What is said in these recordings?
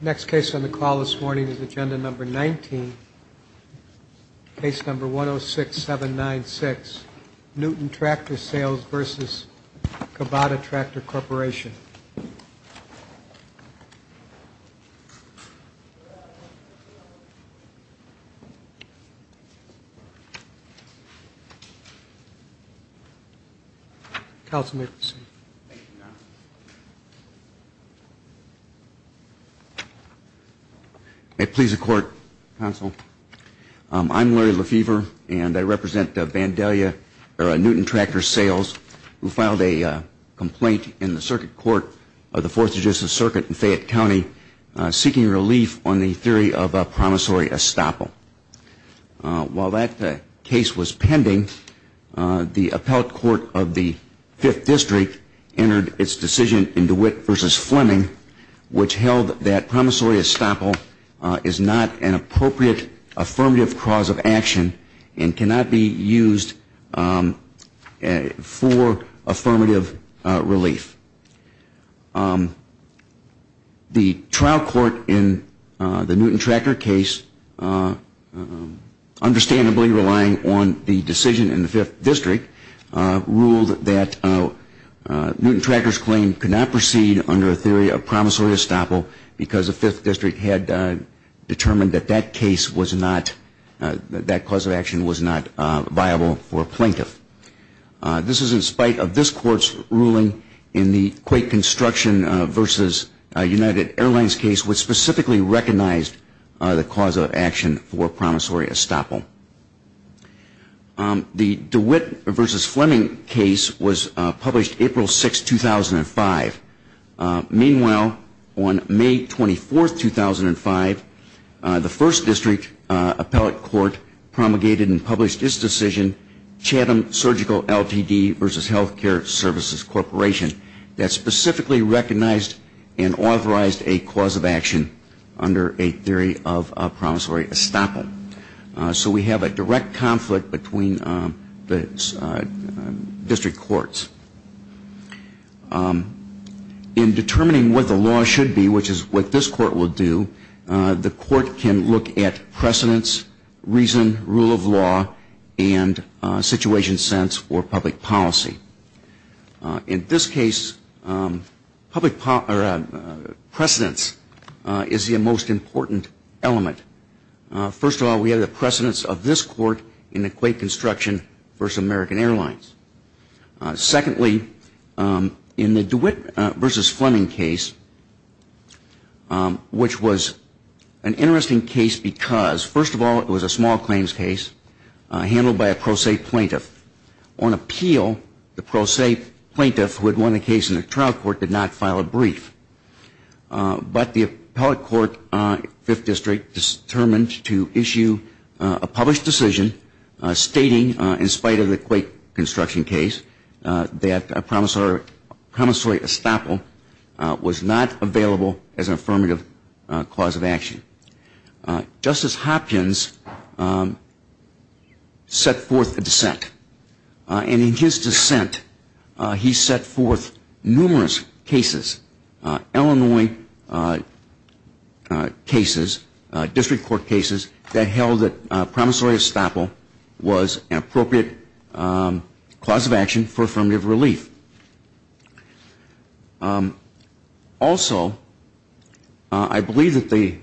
Next case on the call this morning is agenda number 19. Case number 106796 Newton Tractor Sales v. Kubota Tractor Corporation. Counsel may proceed. May it please the court, counsel, I'm Larry Lefever and I represent Newton Tractor Sales who filed a complaint in the circuit court of the Fourth Judicial Circuit in Fayette County seeking relief on the theory of a promissory estoppel. While that case was pending, the appellate court of the Fifth District entered its decision in DeWitt v. Fleming which held that promissory estoppel is not an appropriate affirmative cause of action and cannot be used for affirmative relief. The trial court in the Newton Tractor case, understandably relying on the decision in the Fifth District, ruled that Newton Tractor's claim could not proceed under a theory of promissory estoppel because the Fifth District had determined that that cause of action was not viable for a plaintiff. This is in spite of this court's ruling in the Quake Construction v. United Airlines case which specifically recognized the cause of action for promissory estoppel. The DeWitt v. Fleming case was published April 6, 2005. Meanwhile, on May 24, 2005, the First District appellate court promulgated and published its decision, Chatham Surgical Ltd. v. Healthcare Services Corporation, that specifically recognized and authorized a cause of action under a theory of promissory estoppel. So we have a direct conflict between the district courts. In determining what the law should be, which is what this court will do, the court can look at precedence, reason, rule of law, and situation sense for public policy. In this case, precedence is the most important element. First of all, we have the precedence of this court in the Quake Construction v. American Airlines. Secondly, in the DeWitt v. Fleming case, which was an interesting case because, first of all, it was a small claims case handled by a pro se plaintiff. On appeal, the pro se plaintiff who had won the case in the trial court did not file a brief. But the appellate court, Fifth District, determined to issue a published decision stating, in spite of the Quake Construction case, that promissory estoppel was not available as an affirmative cause of action. Justice Hopkins set forth a dissent. And in his dissent, he set forth numerous cases, Illinois cases, district court cases, that held that promissory estoppel was an appropriate cause of action for affirmative relief. Also, I believe that the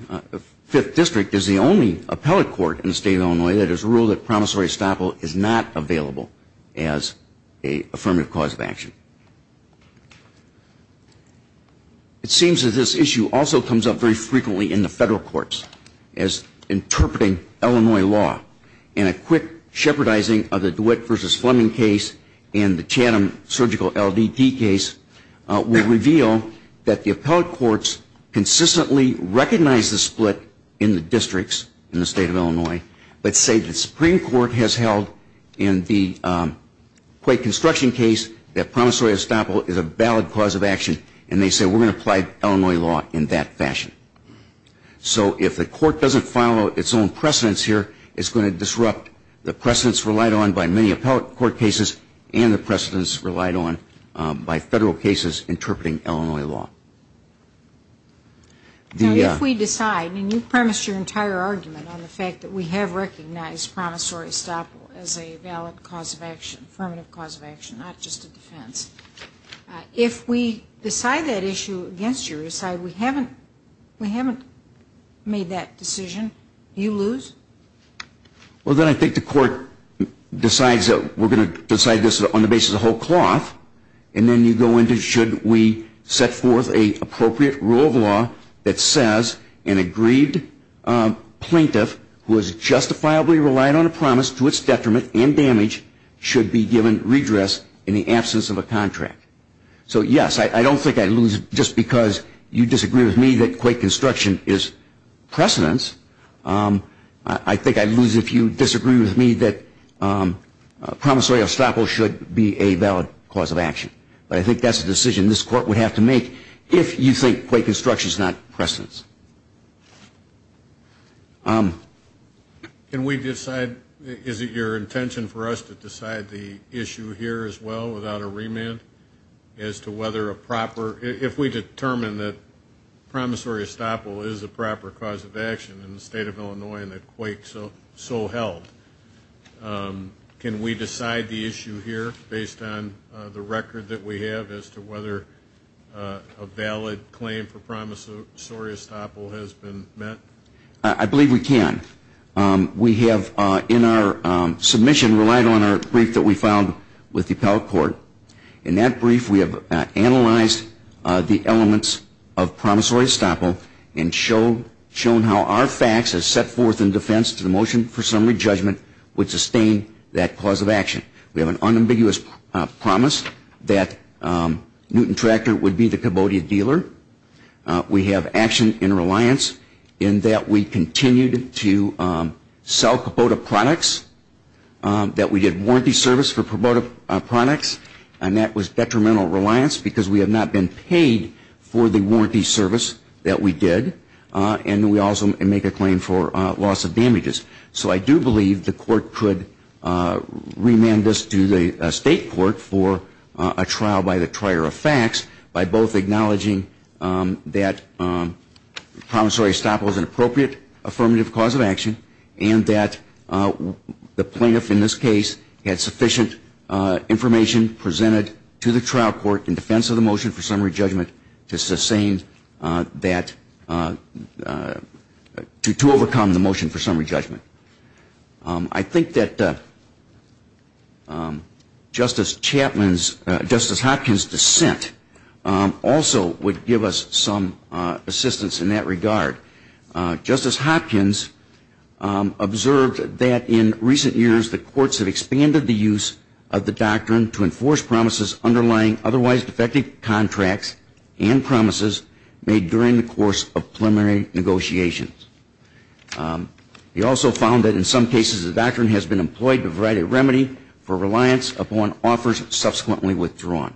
Fifth District is the only appellate court in the state of Illinois that has ruled that promissory estoppel is not available as an affirmative cause of action. It seems that this issue also comes up very frequently in the federal courts, as interpreting Illinois law in a quick shepherdizing of the DeWitt v. Fleming case and the Chatham surgical LDD case will reveal that the appellate courts consistently recognize the split in the districts in the state of Illinois, but say the Supreme Court has held in the Quake Construction case that promissory estoppel is a valid cause of action, and they say we're going to apply Illinois law in that fashion. So if the court doesn't follow its own precedence here, it's going to disrupt the precedence relied on by many appellate court cases and the precedence relied on by federal cases interpreting Illinois law. If we decide, and you premised your entire argument on the fact that we have recognized promissory estoppel as a valid cause of action, affirmative cause of action, not just a defense, if we decide that issue against you, decide we haven't made that decision, do you lose? Well, then I think the court decides that we're going to decide this on the basis of whole cloth, and then you go into should we set forth an appropriate rule of law that says an agreed plaintiff who has justifiably relied on a promise to its detriment and damage should be given redress in the absence of a contract. So, yes, I don't think I lose just because you disagree with me that Quake Construction is precedence. I think I lose if you disagree with me that promissory estoppel should be a valid cause of action. But I think that's a decision this court would have to make if you think Quake Construction is not precedence. Can we decide, is it your intention for us to decide the issue here as well without a remand as to whether a proper, if we determine that promissory estoppel is a proper cause of action in the state of Illinois and that Quake so held, can we decide the issue here based on the record that we have as to whether a valid claim for promissory estoppel has been met? I believe we can. We have in our submission relied on our brief that we filed with the appellate court. In that brief, we have analyzed the elements of promissory estoppel and shown how our facts as set forth in defense to the motion for summary judgment would sustain that cause of action. We have an unambiguous promise that Newton Tractor would be the Kubota dealer. We have action in reliance in that we continued to sell Kubota products, that we did warranty service for Kubota products. And that was detrimental reliance because we have not been paid for the warranty service that we did. And we also make a claim for loss of damages. So I do believe the court could remand this to the state court for a trial by the trier of facts by both acknowledging that promissory estoppel is an appropriate affirmative cause of action and that the plaintiff in this case had sufficient information presented to the trial court in defense of the motion for summary judgment to sustain that, to overcome the motion for summary judgment. I think that Justice Hopkins' dissent also would give us some assistance in that regard. Justice Hopkins observed that in recent years the courts have expanded the use of the doctrine to enforce promises underlying otherwise defective contracts and promises made during the course of preliminary negotiations. He also found that in some cases the doctrine has been employed to provide a remedy for reliance upon offers subsequently withdrawn.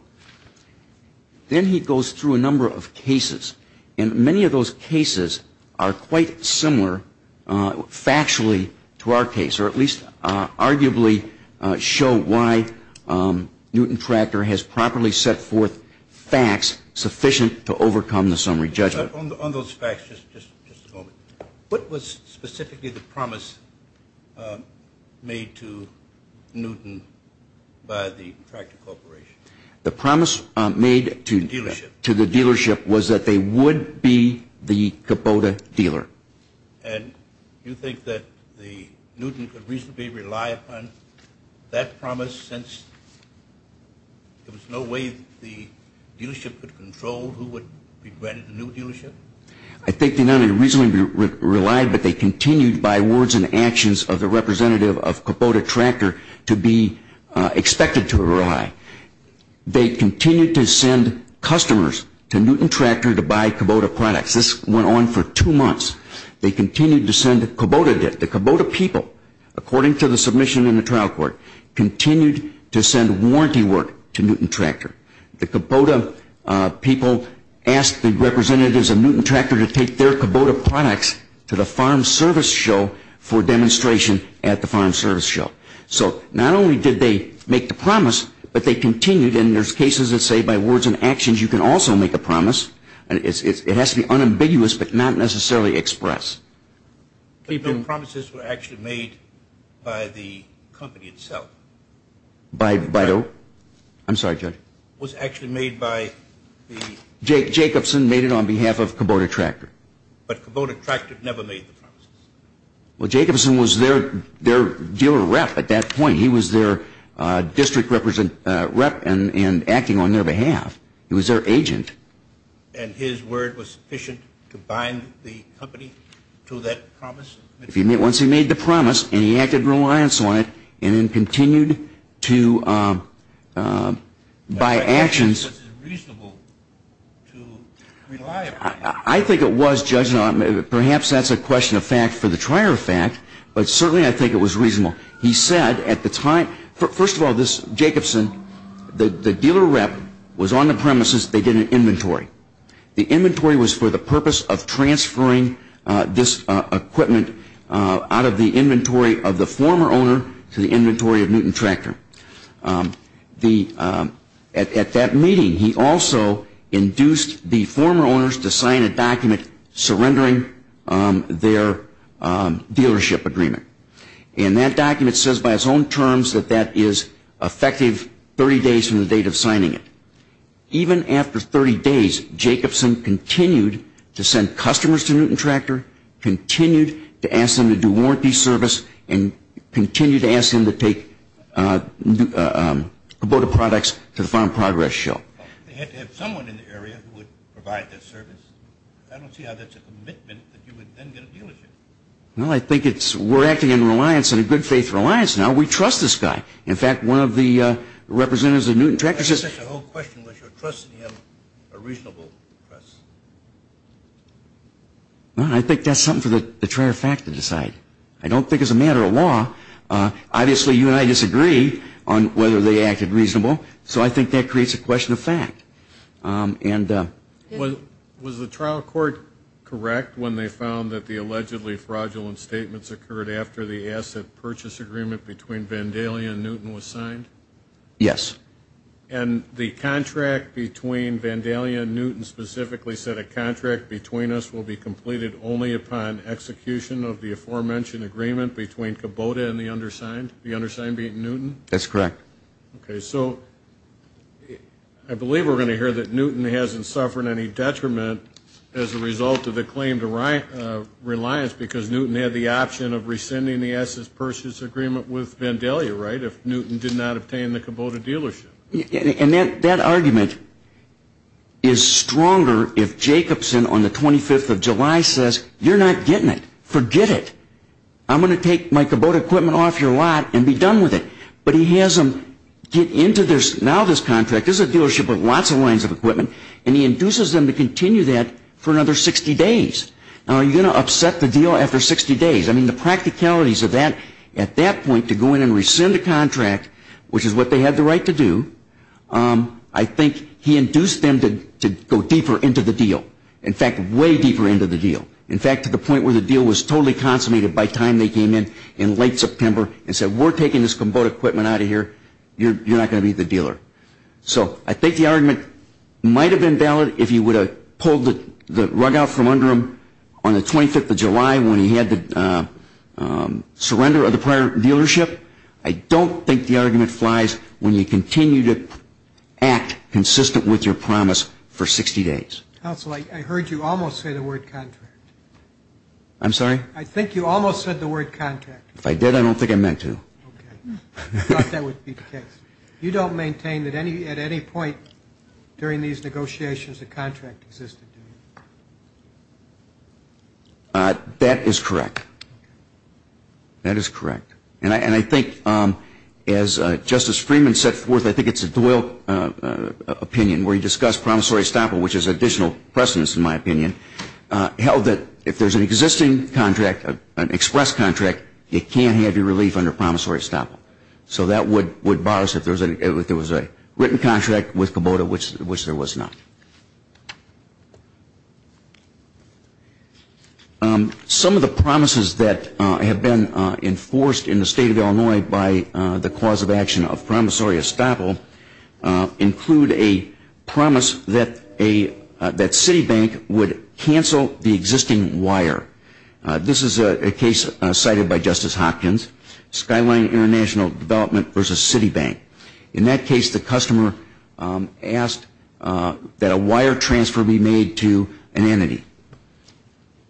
Then he goes through a number of cases, and many of those cases are quite similar factually to our case, or at least arguably show why Newton Tractor has properly set forth facts sufficient to overcome the summary judgment. On those facts, just a moment. What was specifically the promise made to Newton by the Tractor Corporation? The promise made to the dealership was that they would be the Kubota dealer. And you think that Newton could reasonably rely upon that promise since there was no way the dealership could control who would be granted the new dealership? I think they not only reasonably relied, but they continued by words and actions of the representative of Kubota Tractor to be expected to rely. They continued to send customers to Newton Tractor to buy Kubota products. This went on for two months. They continued to send Kubota debt. The Kubota people, according to the submission in the trial court, continued to send warranty work to Newton Tractor. The Kubota people asked the representatives of Newton Tractor to take their Kubota products to the farm service show for demonstration at the farm service show. So not only did they make the promise, but they continued. And there's cases that say by words and actions you can also make a promise. It has to be unambiguous but not necessarily express. But the promises were actually made by the company itself. By who? I'm sorry, Judge. It was actually made by the... Jacobson made it on behalf of Kubota Tractor. But Kubota Tractor never made the promises. Well, Jacobson was their dealer rep at that point. He was their district rep and acting on their behalf. He was their agent. And his word was sufficient to bind the company to that promise? Once he made the promise and he acted in reliance on it and then continued to, by actions... By actions, which is reasonable to rely upon. I think it was, Judge. Perhaps that's a question of fact for the trier of fact, but certainly I think it was reasonable. He said at the time... First of all, Jacobson, the dealer rep was on the premises. They did an inventory. The inventory was for the purpose of transferring this equipment out of the inventory of the former owner to the inventory of Newton Tractor. At that meeting, he also induced the former owners to sign a document surrendering their dealership agreement. And that document says by its own terms that that is effective 30 days from the date of signing it. Even after 30 days, Jacobson continued to send customers to Newton Tractor, continued to ask them to do warranty service, and continued to ask them to take Kubota products to the Farm Progress Show. They had to have someone in the area who would provide that service? I don't see how that's a commitment that you would then get a dealership. Well, I think it's... We're acting in reliance, in a good faith reliance now. We trust this guy. In fact, one of the representatives of Newton Tractor says... The whole question was, do you trust him, a reasonable trust? Well, I think that's something for the trial of fact to decide. I don't think it's a matter of law. Obviously, you and I disagree on whether they acted reasonable. So I think that creates a question of fact. Was the trial court correct when they found that the allegedly fraudulent statements occurred after the asset purchase agreement between Vandalia and Newton was signed? Yes. And the contract between Vandalia and Newton specifically said, a contract between us will be completed only upon execution of the aforementioned agreement between Kubota and the undersigned, the undersigned being Newton? That's correct. Okay. So I believe we're going to hear that Newton hasn't suffered any detriment as a result of the claim to reliance because Newton had the option of rescinding the asset purchase agreement with Vandalia, right, if Newton did not obtain the Kubota dealership. And that argument is stronger if Jacobson on the 25th of July says, you're not getting it. Forget it. I'm going to take my Kubota equipment off your lot and be done with it. But he has them get into this, now this contract, this is a dealership with lots of lines of equipment, and he induces them to continue that for another 60 days. Now, are you going to upset the deal after 60 days? I mean, the practicalities of that, at that point, to go in and rescind a contract, which is what they had the right to do, I think he induced them to go deeper into the deal. In fact, way deeper into the deal. In fact, to the point where the deal was totally consummated by the time they came in in late September and said, we're taking this Kubota equipment out of here, you're not going to be the dealer. So I think the argument might have been valid if you would have pulled the rug out from under him on the 25th of July when he had the surrender of the prior dealership. I don't think the argument flies when you continue to act consistent with your promise for 60 days. Counsel, I heard you almost say the word contract. I'm sorry? I think you almost said the word contract. If I did, I don't think I meant to. Okay. I thought that would be the case. You don't maintain that at any point during these negotiations a contract existed? That is correct. That is correct. And I think as Justice Freeman set forth, I think it's a dual opinion, where he discussed promissory estoppel, which is additional precedence in my opinion, held that if there's an existing contract, an express contract, you can't have your relief under promissory estoppel. So that would bar us if there was a written contract with Kubota which there was not. Some of the promises that have been enforced in the state of Illinois by the cause of action of promissory estoppel include a promise that Citibank would cancel the existing wire. This is a case cited by Justice Hopkins. Skyline International Development versus Citibank. In that case, the customer asked that a wire transfer be made to an entity.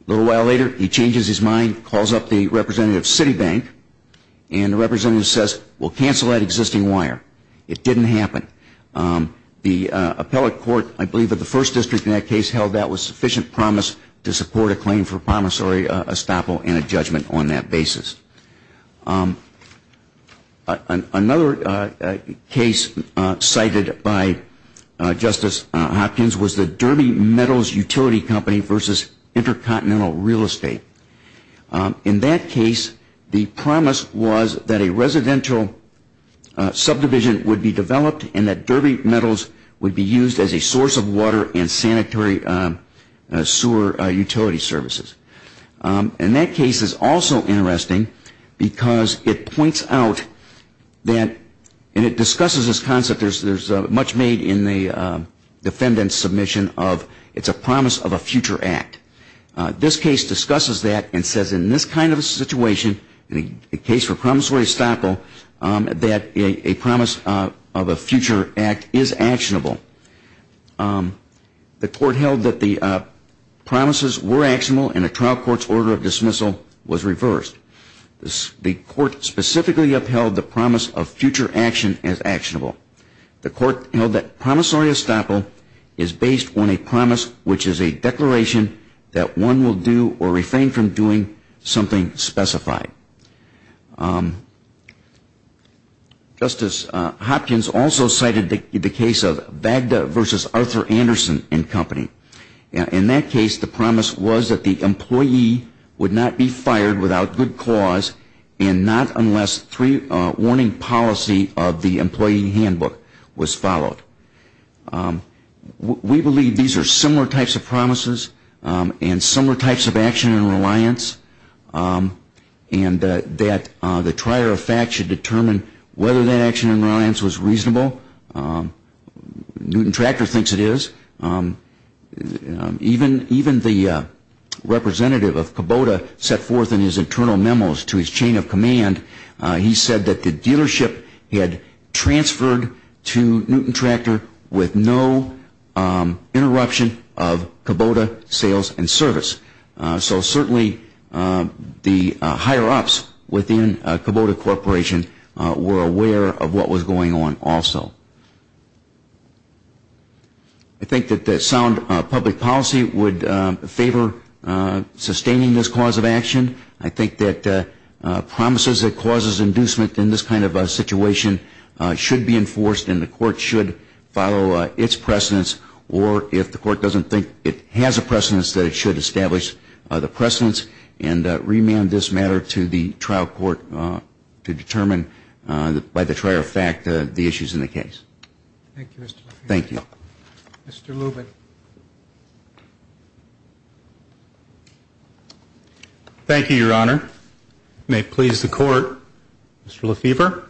A little while later, he changes his mind, calls up the representative of Citibank, and the representative says, well, cancel that existing wire. It didn't happen. The appellate court, I believe of the first district in that case, held that was sufficient promise to support a claim for promissory estoppel and a judgment on that basis. Another case cited by Justice Hopkins was the Derby Metals Utility Company versus Intercontinental Real Estate. In that case, the promise was that a residential subdivision would be developed and that Derby Metals would be used as a source of water and sanitary sewer utility services. And that case is also interesting because it points out that, and it discusses this concept, there's much made in the defendant's submission of it's a promise of a future act. This case discusses that and says in this kind of a situation, in the case for promissory estoppel, that a promise of a future act is actionable. The court held that the promises were actionable and a trial court's order of dismissal was reversed. The court specifically upheld the promise of future action as actionable. The court held that promissory estoppel is based on a promise, which is a declaration that one will do or refrain from doing something specified. Justice Hopkins also cited the case of Vagda versus Arthur Anderson and Company. In that case, the promise was that the employee would not be fired without good cause and not unless three warning policy of the employee handbook was followed. We believe these are similar types of promises and similar types of action and reliance and that the trier of fact should determine whether that action and reliance was reasonable. Newton Tractor thinks it is. Even the representative of Kubota set forth in his internal memos to his chain of command, he said that the dealership had transferred to Newton Tractor with no interruption of Kubota sales and service. So certainly the higher-ups within Kubota Corporation were aware of what was going on also. I think that sound public policy would favor sustaining this cause of action. I think that promises that causes inducement in this kind of a situation should be enforced and the court should follow its precedence or if the court doesn't think it has a precedence, that it should establish the precedence and remand this matter to the trial court to determine, by the trier of fact, the issues in the case. Thank you, Mr. Murphy. Thank you. Mr. Lubin. Thank you, Your Honor. May it please the court, Mr. Lefevre.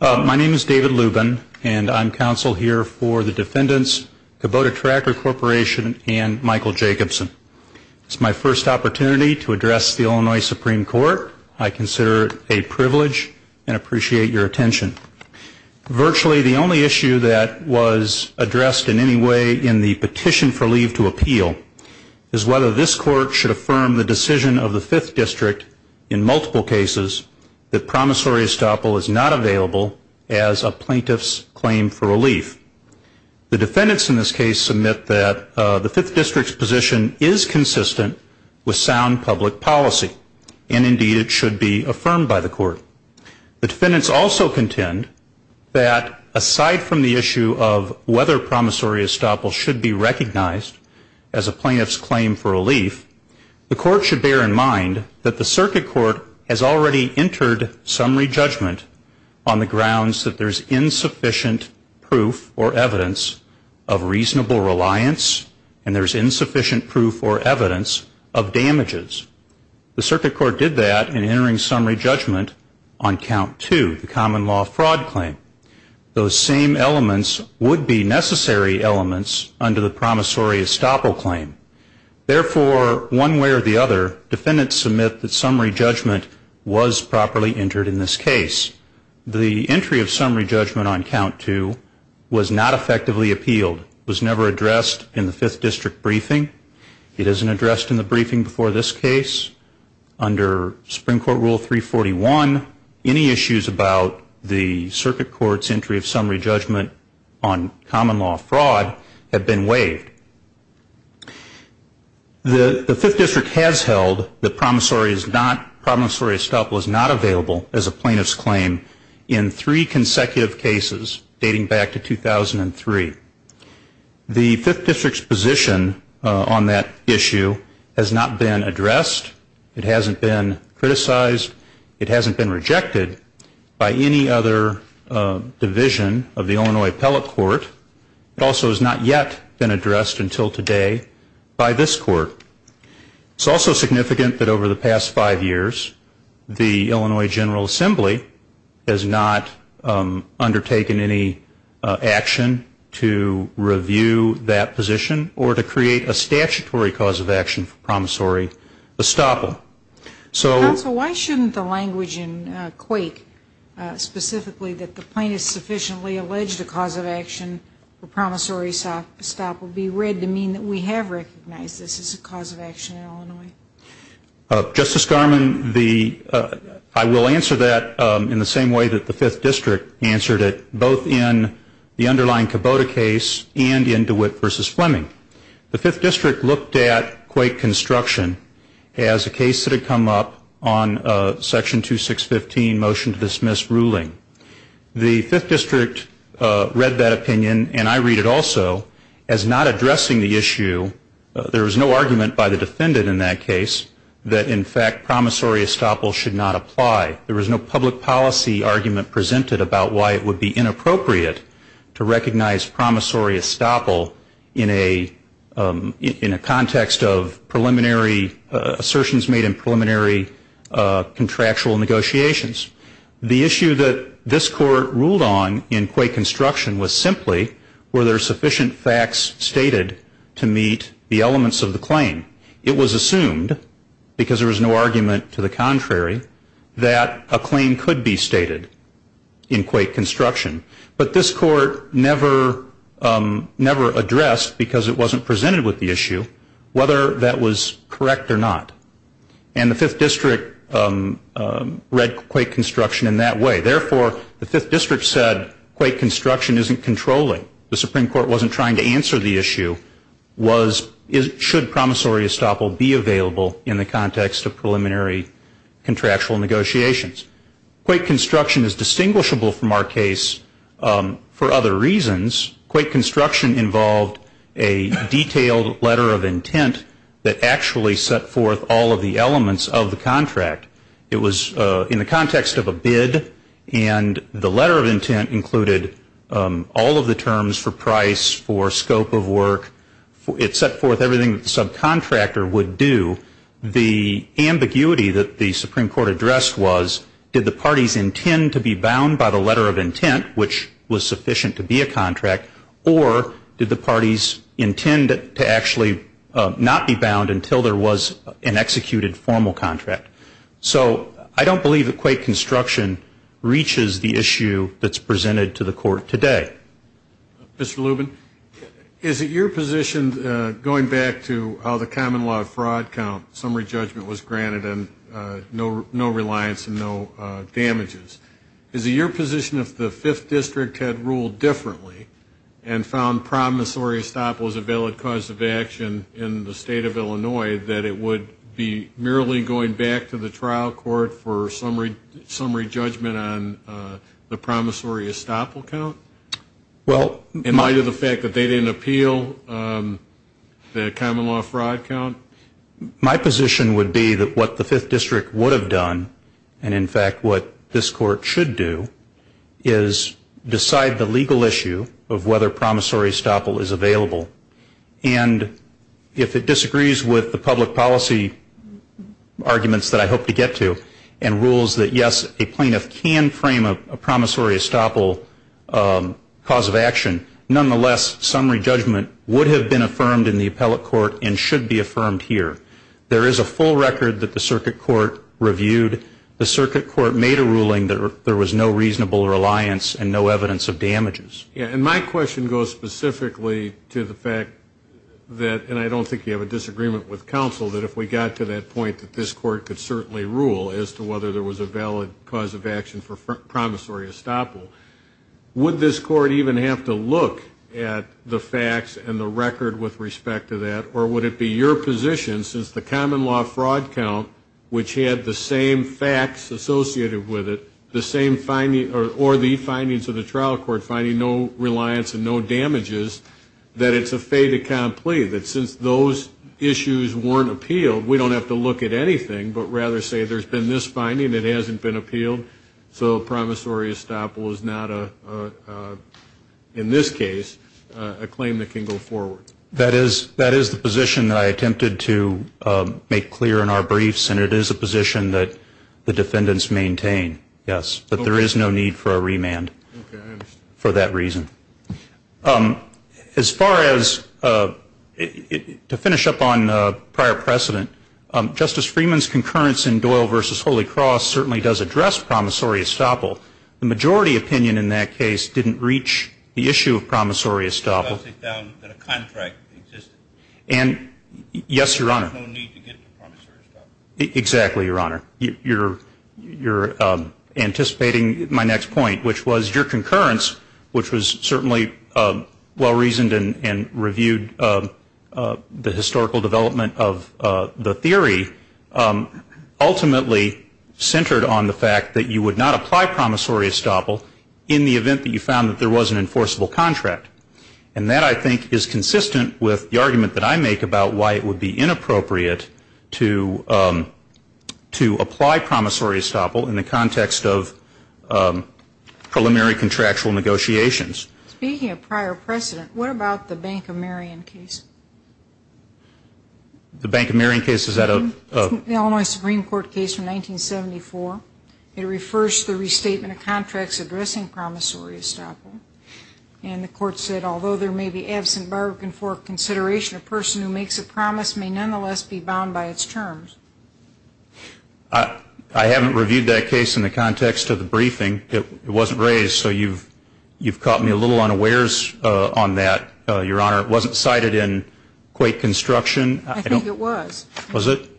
My name is David Lubin and I'm counsel here for the defendants, Kubota Tractor Corporation, and Michael Jacobson. It's my first opportunity to address the Illinois Supreme Court. I consider it a privilege and appreciate your attention. Virtually the only issue that was addressed in any way in the petition for leave to appeal is whether this court should affirm the decision of the Fifth District in multiple cases that promissory estoppel is not available as a plaintiff's claim for relief. The defendants in this case submit that the Fifth District's position is consistent with sound public policy and, indeed, it should be affirmed by the court. The defendants also contend that aside from the issue of whether promissory estoppel should be recognized as a plaintiff's claim for relief, the court should bear in mind that the circuit court has already entered summary judgment on the grounds that there's insufficient proof or evidence of reasonable reliance and there's insufficient proof or evidence of damages. The circuit court did that in entering summary judgment on count two, the common law fraud claim. Those same elements would be necessary elements under the promissory estoppel claim. Therefore, one way or the other, defendants submit that summary judgment was properly entered in this case. The entry of summary judgment on count two was not effectively appealed. It was never addressed in the Fifth District briefing. It isn't addressed in the briefing before this case. Under Supreme Court Rule 341, any issues about the circuit court's entry of summary judgment on common law fraud have been waived. The Fifth District has held that promissory estoppel is not available as a plaintiff's claim in three consecutive cases dating back to 2003. The Fifth District's position on that issue has not been addressed. It hasn't been criticized. It hasn't been rejected by any other division of the Illinois Appellate Court. It also has not yet been addressed until today by this court. It's also significant that over the past five years, the Illinois General Assembly has not undertaken any action to review that position or to create a statutory cause of action for promissory estoppel. Counsel, why shouldn't the language in Quake, specifically that the plaintiff sufficiently alleged a cause of action for promissory estoppel, be read to mean that we have recognized this as a cause of action in Illinois? Justice Garmon, I will answer that in the same way that the Fifth District answered it, both in the underlying Kubota case and in DeWitt v. Fleming. The Fifth District looked at Quake construction as a case that had come up on Section 2615, motion to dismiss ruling. The Fifth District read that opinion, and I read it also, as not addressing the issue. There was no argument by the defendant in that case that in fact promissory estoppel should not apply. There was no public policy argument presented about why it would be inappropriate to recognize promissory estoppel in a context of assertions made in preliminary contractual negotiations. The issue that this court ruled on in Quake construction was simply were there sufficient facts stated to meet the elements of the claim. It was assumed, because there was no argument to the contrary, that a claim could be stated in Quake construction. But this court never addressed, because it wasn't presented with the issue, whether that was correct or not. And the Fifth District read Quake construction in that way. Therefore, the Fifth District said Quake construction isn't controlling. The Supreme Court wasn't trying to answer the issue was should promissory estoppel be available in the context of preliminary contractual negotiations. Quake construction is distinguishable from our case for other reasons. Quake construction involved a detailed letter of intent that actually set forth all of the elements of the contract. It was in the context of a bid. And the letter of intent included all of the terms for price, for scope of work. It set forth everything that the subcontractor would do. The ambiguity that the Supreme Court addressed was did the parties intend to be bound by the letter of intent, which was sufficient to be a contract, or did the parties intend to actually not be bound until there was an executed formal contract. So I don't believe that Quake construction reaches the issue that's presented to the court today. Mr. Lubin, is it your position, going back to how the common law of fraud count, summary judgment was granted and no reliance and no damages, is it your position if the 5th District had ruled differently and found promissory estoppel was a valid cause of action in the state of Illinois that it would be merely going back to the trial court for summary judgment on the promissory estoppel count? In light of the fact that they didn't appeal the common law of fraud count? My position would be that what the 5th District would have done, and in fact what this Court should do, is decide the legal issue of whether promissory estoppel is available. And if it disagrees with the public policy arguments that I hope to get to, and rules that yes, a plaintiff can frame a promissory estoppel cause of action, nonetheless, summary judgment would have been affirmed in the appellate court and should be affirmed here. There is a full record that the circuit court reviewed. The circuit court made a ruling that there was no reasonable reliance and no evidence of damages. Yeah, and my question goes specifically to the fact that, and I don't think you have a disagreement with counsel, that if we got to that point that this Court could certainly rule as to whether there was a valid cause of action for promissory estoppel, would this Court even have to look at the facts and the record with respect to that, or would it be your position, since the common law fraud count, which had the same facts associated with it, the same findings, or the findings of the trial court finding no reliance and no damages, that it's a fait accompli, that since those issues weren't appealed, we don't have to look at anything, but rather say there's been this finding, it hasn't been appealed, so promissory estoppel is not, in this case, a claim that can go forward. That is the position that I attempted to make clear in our briefs, and it is a position that the defendants maintain, yes, that there is no need for a remand for that reason. As far as, to finish up on prior precedent, Justice Freeman's concurrence in Doyle v. Holy Cross certainly does address promissory estoppel. The majority opinion in that case didn't reach the issue of promissory estoppel. And, yes, Your Honor. Exactly, Your Honor. You're anticipating my next point, which was your concurrence, which was certainly well-reasoned and reviewed the historical development of the theory, ultimately centered on the fact that you would not apply promissory estoppel in the event that you found that there was an enforceable contract. And that, I think, is consistent with the argument that I make about why it would be inappropriate to apply promissory estoppel in the context of preliminary contractual negotiations. Speaking of prior precedent, what about the Bank of Marion case? The Bank of Marion case, is that a? It's an Illinois Supreme Court case from 1974. It refers to the restatement of contracts addressing promissory estoppel. And the Court said, although there may be absent barbican for consideration, a person who makes a promise may nonetheless be bound by its terms. I haven't reviewed that case in the context of the briefing. It wasn't raised, so you've caught me a little unawares on that, Your Honor. It wasn't cited in Quate Construction. I think it was. Was it?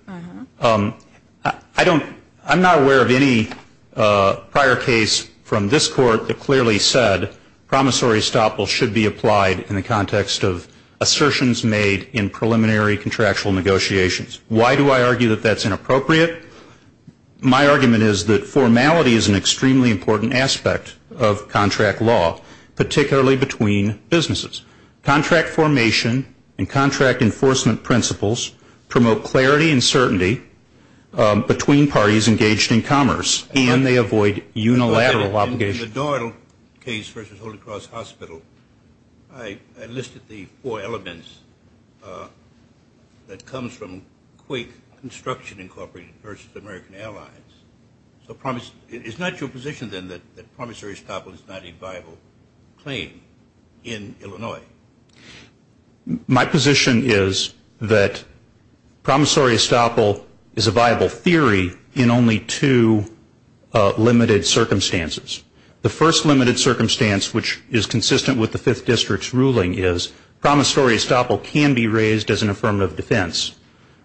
I'm not aware of any prior case from this Court that clearly said promissory estoppel should be applied in the context of assertions made in preliminary contractual negotiations. Why do I argue that that's inappropriate? My argument is that formality is an extremely important aspect of contract law, particularly between businesses. Contract formation and contract enforcement principles promote clarity and certainty between parties engaged in commerce, and they avoid unilateral obligations. In the Doyle case versus Holy Cross Hospital, I listed the four elements that comes from Quake Construction, Incorporated, versus American Allies. Is not your position, then, that promissory estoppel is not a viable claim in Illinois? My position is that promissory estoppel is a viable theory in only two limited circumstances. The first limited circumstance, which is consistent with the Fifth District's ruling, is promissory estoppel can be raised as an affirmative defense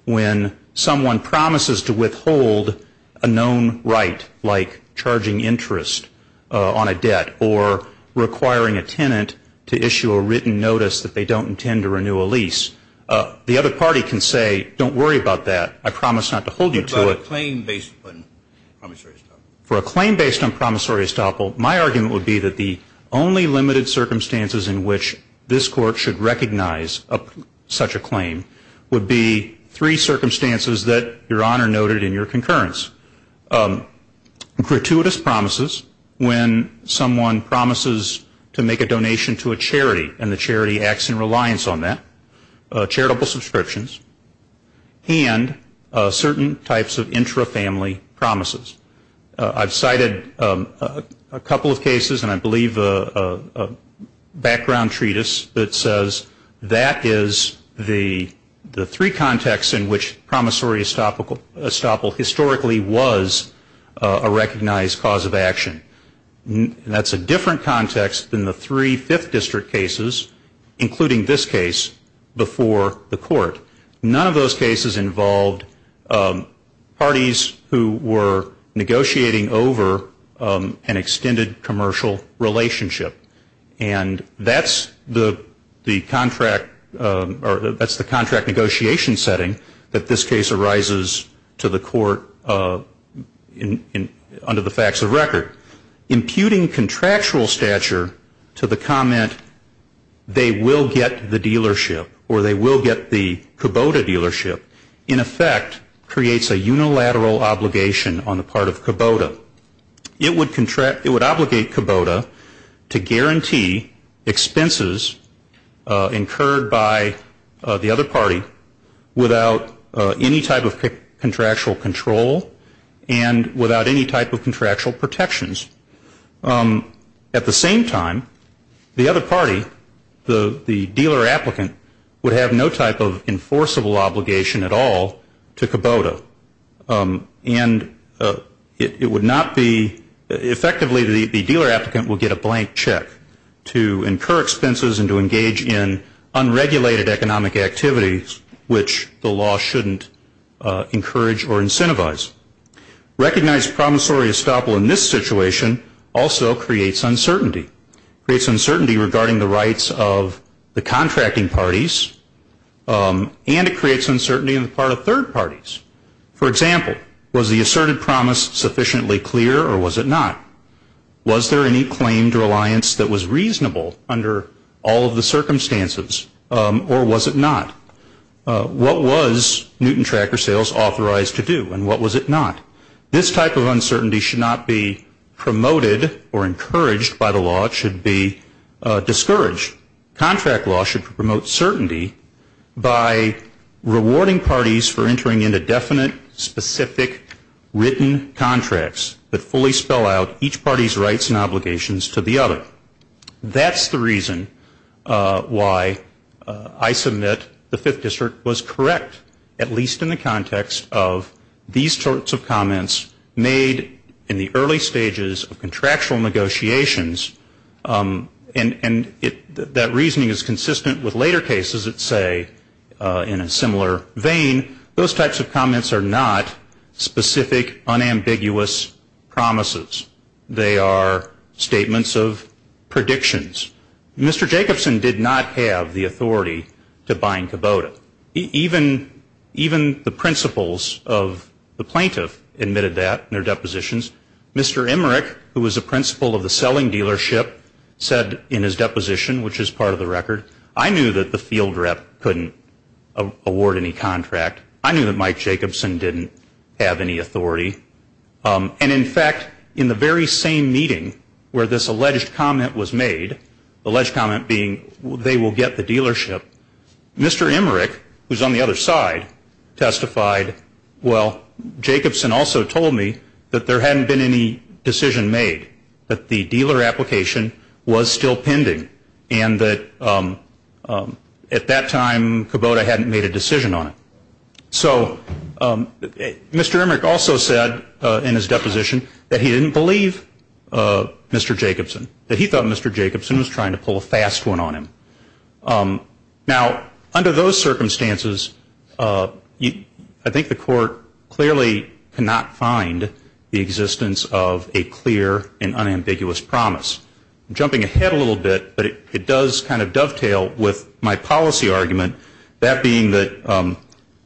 when someone promises to withhold a known right, like charging interest on a debt or requiring a tenant to issue a written notice that they don't intend to renew a lease. The other party can say, don't worry about that. I promise not to hold you to it. What about a claim based on promissory estoppel? For a claim based on promissory estoppel, my argument would be that the only limited circumstances in which this Court should recognize such a claim would be three circumstances that Your Honor noted in your concurrence. Gratuitous promises, when someone promises to make a donation to a charity and the charity acts in reliance on that, charitable subscriptions, and certain types of intra-family promises. I've cited a couple of cases and I believe a background treatise that says that is the three contexts in which promissory estoppel historically was a recognized cause of action. That's a different context than the three Fifth District cases, including this case, before the Court. None of those cases involved parties who were negotiating over an extended commercial relationship. And that's the contract negotiation setting that this case arises to the Court under the facts of record. Imputing contractual stature to the comment, they will get the dealership or they will get the Kubota dealership, in effect creates a unilateral obligation on the part of Kubota. It would obligate Kubota to guarantee expenses incurred by the other party without any type of contractual control and without any type of contractual protections. At the same time, the other party, the dealer-applicant, would have no type of enforceable obligation at all to Kubota. And it would not be effectively the dealer-applicant will get a blank check to incur expenses and to engage in unregulated economic activities, which the law shouldn't encourage or incentivize. Recognized promissory estoppel in this situation also creates uncertainty. It creates uncertainty regarding the rights of the contracting parties and it creates uncertainty on the part of third parties. For example, was the asserted promise sufficiently clear or was it not? Was there any claim to reliance that was reasonable under all of the circumstances or was it not? What was Newton Tracker Sales authorized to do and what was it not? This type of uncertainty should not be promoted or encouraged by the law. It should be discouraged. Contract law should promote certainty by rewarding parties for entering into definite, specific, written contracts that fully spell out each party's rights and obligations to the other. That's the reason why I submit the Fifth District was correct, at least in the context of these sorts of comments made in the early stages of contractual negotiations. And that reasoning is consistent with later cases that say, in a similar vein, those types of comments are not specific, unambiguous promises. They are statements of predictions. Mr. Jacobson did not have the authority to bind Kubota. Even the principals of the plaintiff admitted that in their depositions. Mr. Emmerich, who was the principal of the selling dealership, said in his deposition, which is part of the record, I knew that the field rep couldn't award any contract. I knew that Mike Jacobson didn't have any authority. And, in fact, in the very same meeting where this alleged comment was made, alleged comment being they will get the dealership, Mr. Emmerich, who's on the other side, testified, well, Jacobson also told me that there hadn't been any decision made, that the dealer application was still pending and that at that time Kubota hadn't made a decision on it. So Mr. Emmerich also said in his deposition that he didn't believe Mr. Jacobson, that he thought Mr. Jacobson was trying to pull a fast one on him. Now, under those circumstances, I think the court clearly cannot find the existence of a clear and unambiguous promise. I'm jumping ahead a little bit, but it does kind of dovetail with my policy argument, that being that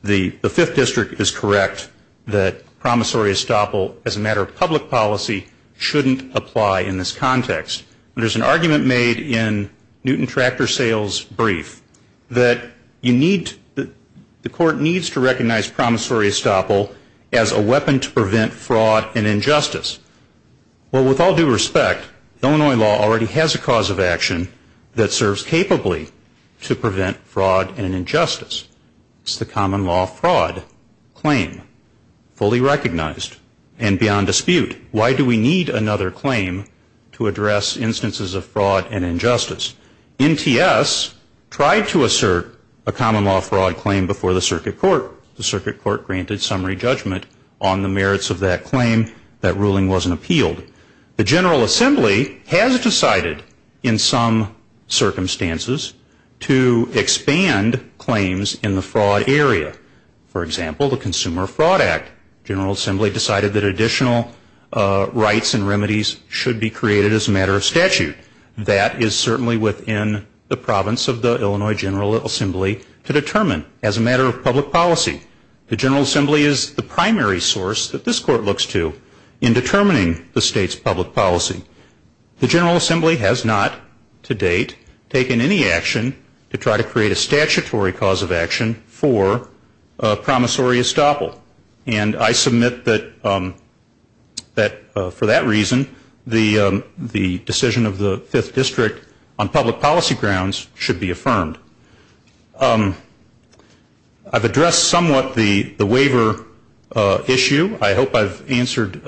the Fifth District is correct that promissory estoppel as a matter of public policy shouldn't apply in this context. There's an argument made in Newton Tractor Sales' brief that you need, the court needs to recognize promissory estoppel as a weapon to prevent fraud and injustice. Well, with all due respect, Illinois law already has a cause of action that serves capably to prevent fraud and injustice. It's the common law fraud claim, fully recognized and beyond dispute. Why do we need another claim to address instances of fraud and injustice? NTS tried to assert a common law fraud claim before the circuit court. The circuit court granted summary judgment on the merits of that claim. That ruling wasn't appealed. The General Assembly has decided in some circumstances to expand claims in the fraud area. For example, the Consumer Fraud Act, the General Assembly decided that additional rights and remedies should be created as a matter of statute. That is certainly within the province of the Illinois General Assembly to determine as a matter of public policy. The General Assembly is the primary source that this court looks to in determining the state's public policy. The General Assembly has not to date taken any action to try to create a statutory cause of action for promissory estoppel. And I submit that for that reason, the decision of the 5th District on public policy grounds should be affirmed. I've addressed somewhat the waiver issue. I hope I've answered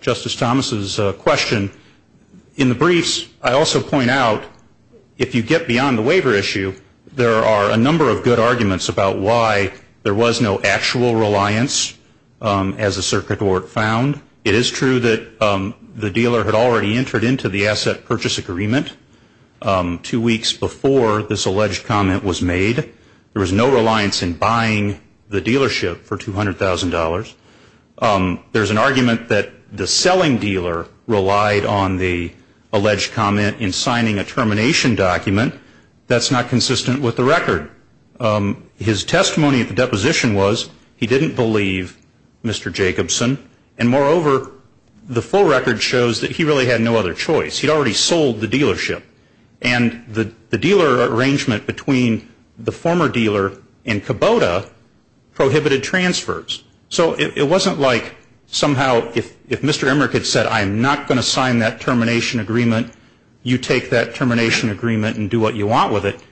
Justice Thomas's question. In the briefs, I also point out if you get beyond the waiver issue, there are a number of good arguments about why there was no actual reliance as the circuit court found. It is true that the dealer had already entered into the asset purchase agreement two weeks before this alleged comment was made. There was no reliance in buying the dealership for $200,000. There's an argument that the selling dealer relied on the alleged comment in signing a termination document. That's not consistent with the record. His testimony at the deposition was he didn't believe Mr. Jacobson. And moreover, the full record shows that he really had no other choice. He'd already sold the dealership. And the dealer arrangement between the former dealer and Kubota prohibited transfers. So it wasn't like somehow if Mr. Emmerich had said I'm not going to sign that termination agreement, you take that termination agreement and do what you want with it,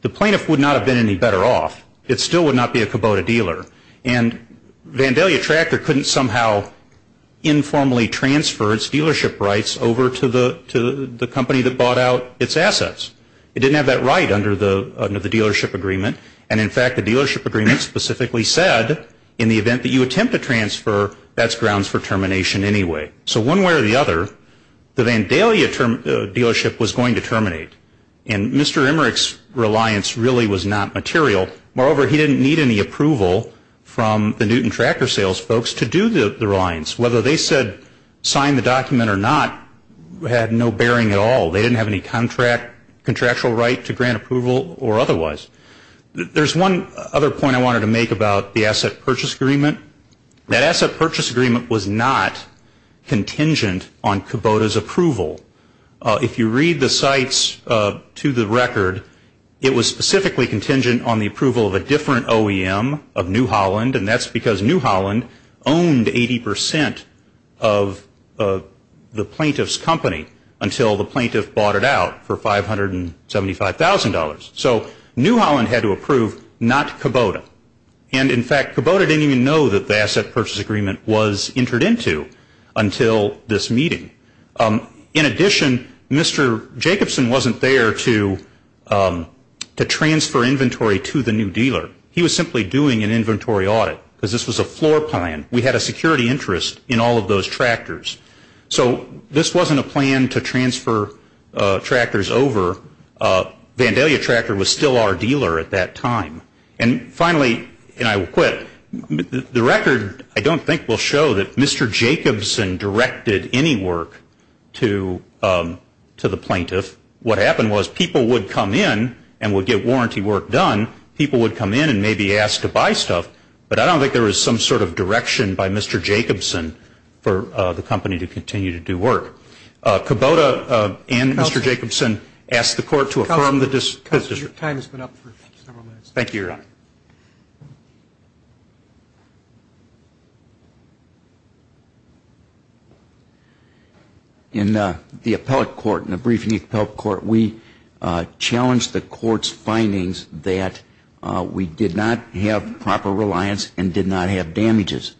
the plaintiff would not have been any better off. It still would not be a Kubota dealer. And Vandalia Tractor couldn't somehow informally transfer its dealership rights over to the company that bought out its assets. It didn't have that right under the dealership agreement. And in fact, the dealership agreement specifically said in the event that you attempt to transfer, that's grounds for termination anyway. So one way or the other, the Vandalia dealership was going to terminate. And Mr. Emmerich's reliance really was not material. Moreover, he didn't need any approval from the Newton Tractor Sales folks to do the reliance. Whether they said sign the document or not had no bearing at all. They didn't have any contractual right to grant approval or otherwise. There's one other point I wanted to make about the asset purchase agreement. That asset purchase agreement was not contingent on Kubota's approval. If you read the sites to the record, it was specifically contingent on the approval of a different OEM of New Holland. And that's because New Holland owned 80% of the plaintiff's company until the plaintiff bought it out for $575,000. So New Holland had to approve, not Kubota. And in fact, Kubota didn't even know that the asset purchase agreement was entered into until this meeting. In addition, Mr. Jacobson wasn't there to transfer inventory to the new dealer. He was simply doing an inventory audit because this was a floor plan. We had a security interest in all of those tractors. So this wasn't a plan to transfer tractors over. Vandalia Tractor was still our dealer at that time. And finally, and I will quit, the record I don't think will show that Mr. Jacobson directed any work to the plaintiff. What happened was people would come in and would get warranty work done. People would come in and maybe ask to buy stuff. But I don't think there was some sort of direction by Mr. Jacobson for the company to continue to do work. Kubota and Mr. Jacobson asked the court to affirm the decision. Your time has been up for several minutes. Thank you, Your Honor. In the appellate court, in the briefing of the appellate court, we challenged the court's findings that we did not have proper reliance and did not have damages.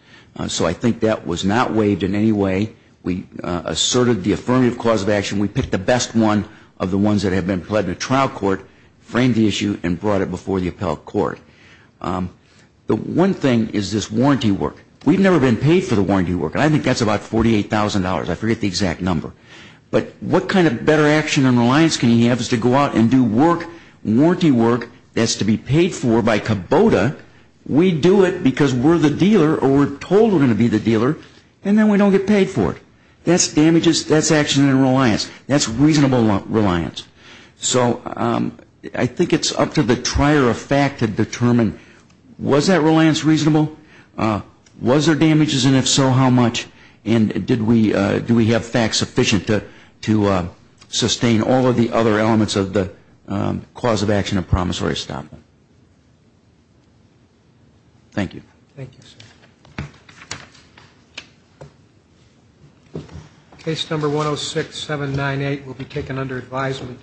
So I think that was not waived in any way. We asserted the affirmative cause of action. We picked the best one of the ones that have been pledged in the trial court, framed the issue, and brought it before the appellate court. The one thing is this warranty work. We've never been paid for the warranty work. And I think that's about $48,000. I forget the exact number. But what kind of better action and reliance can you have is to go out and do work, warranty work that's to be paid for by Kubota. We do it because we're the dealer or we're told we're going to be the dealer, and then we don't get paid for it. That's damages. That's action and reliance. That's reasonable reliance. So I think it's up to the trier of fact to determine, was that reliance reasonable? Was there damages? And if so, how much? And do we have facts sufficient to sustain all of the other elements of the cause of action and promissory stop? Thank you. Thank you, sir. Case number 106798 will be taken under advisement.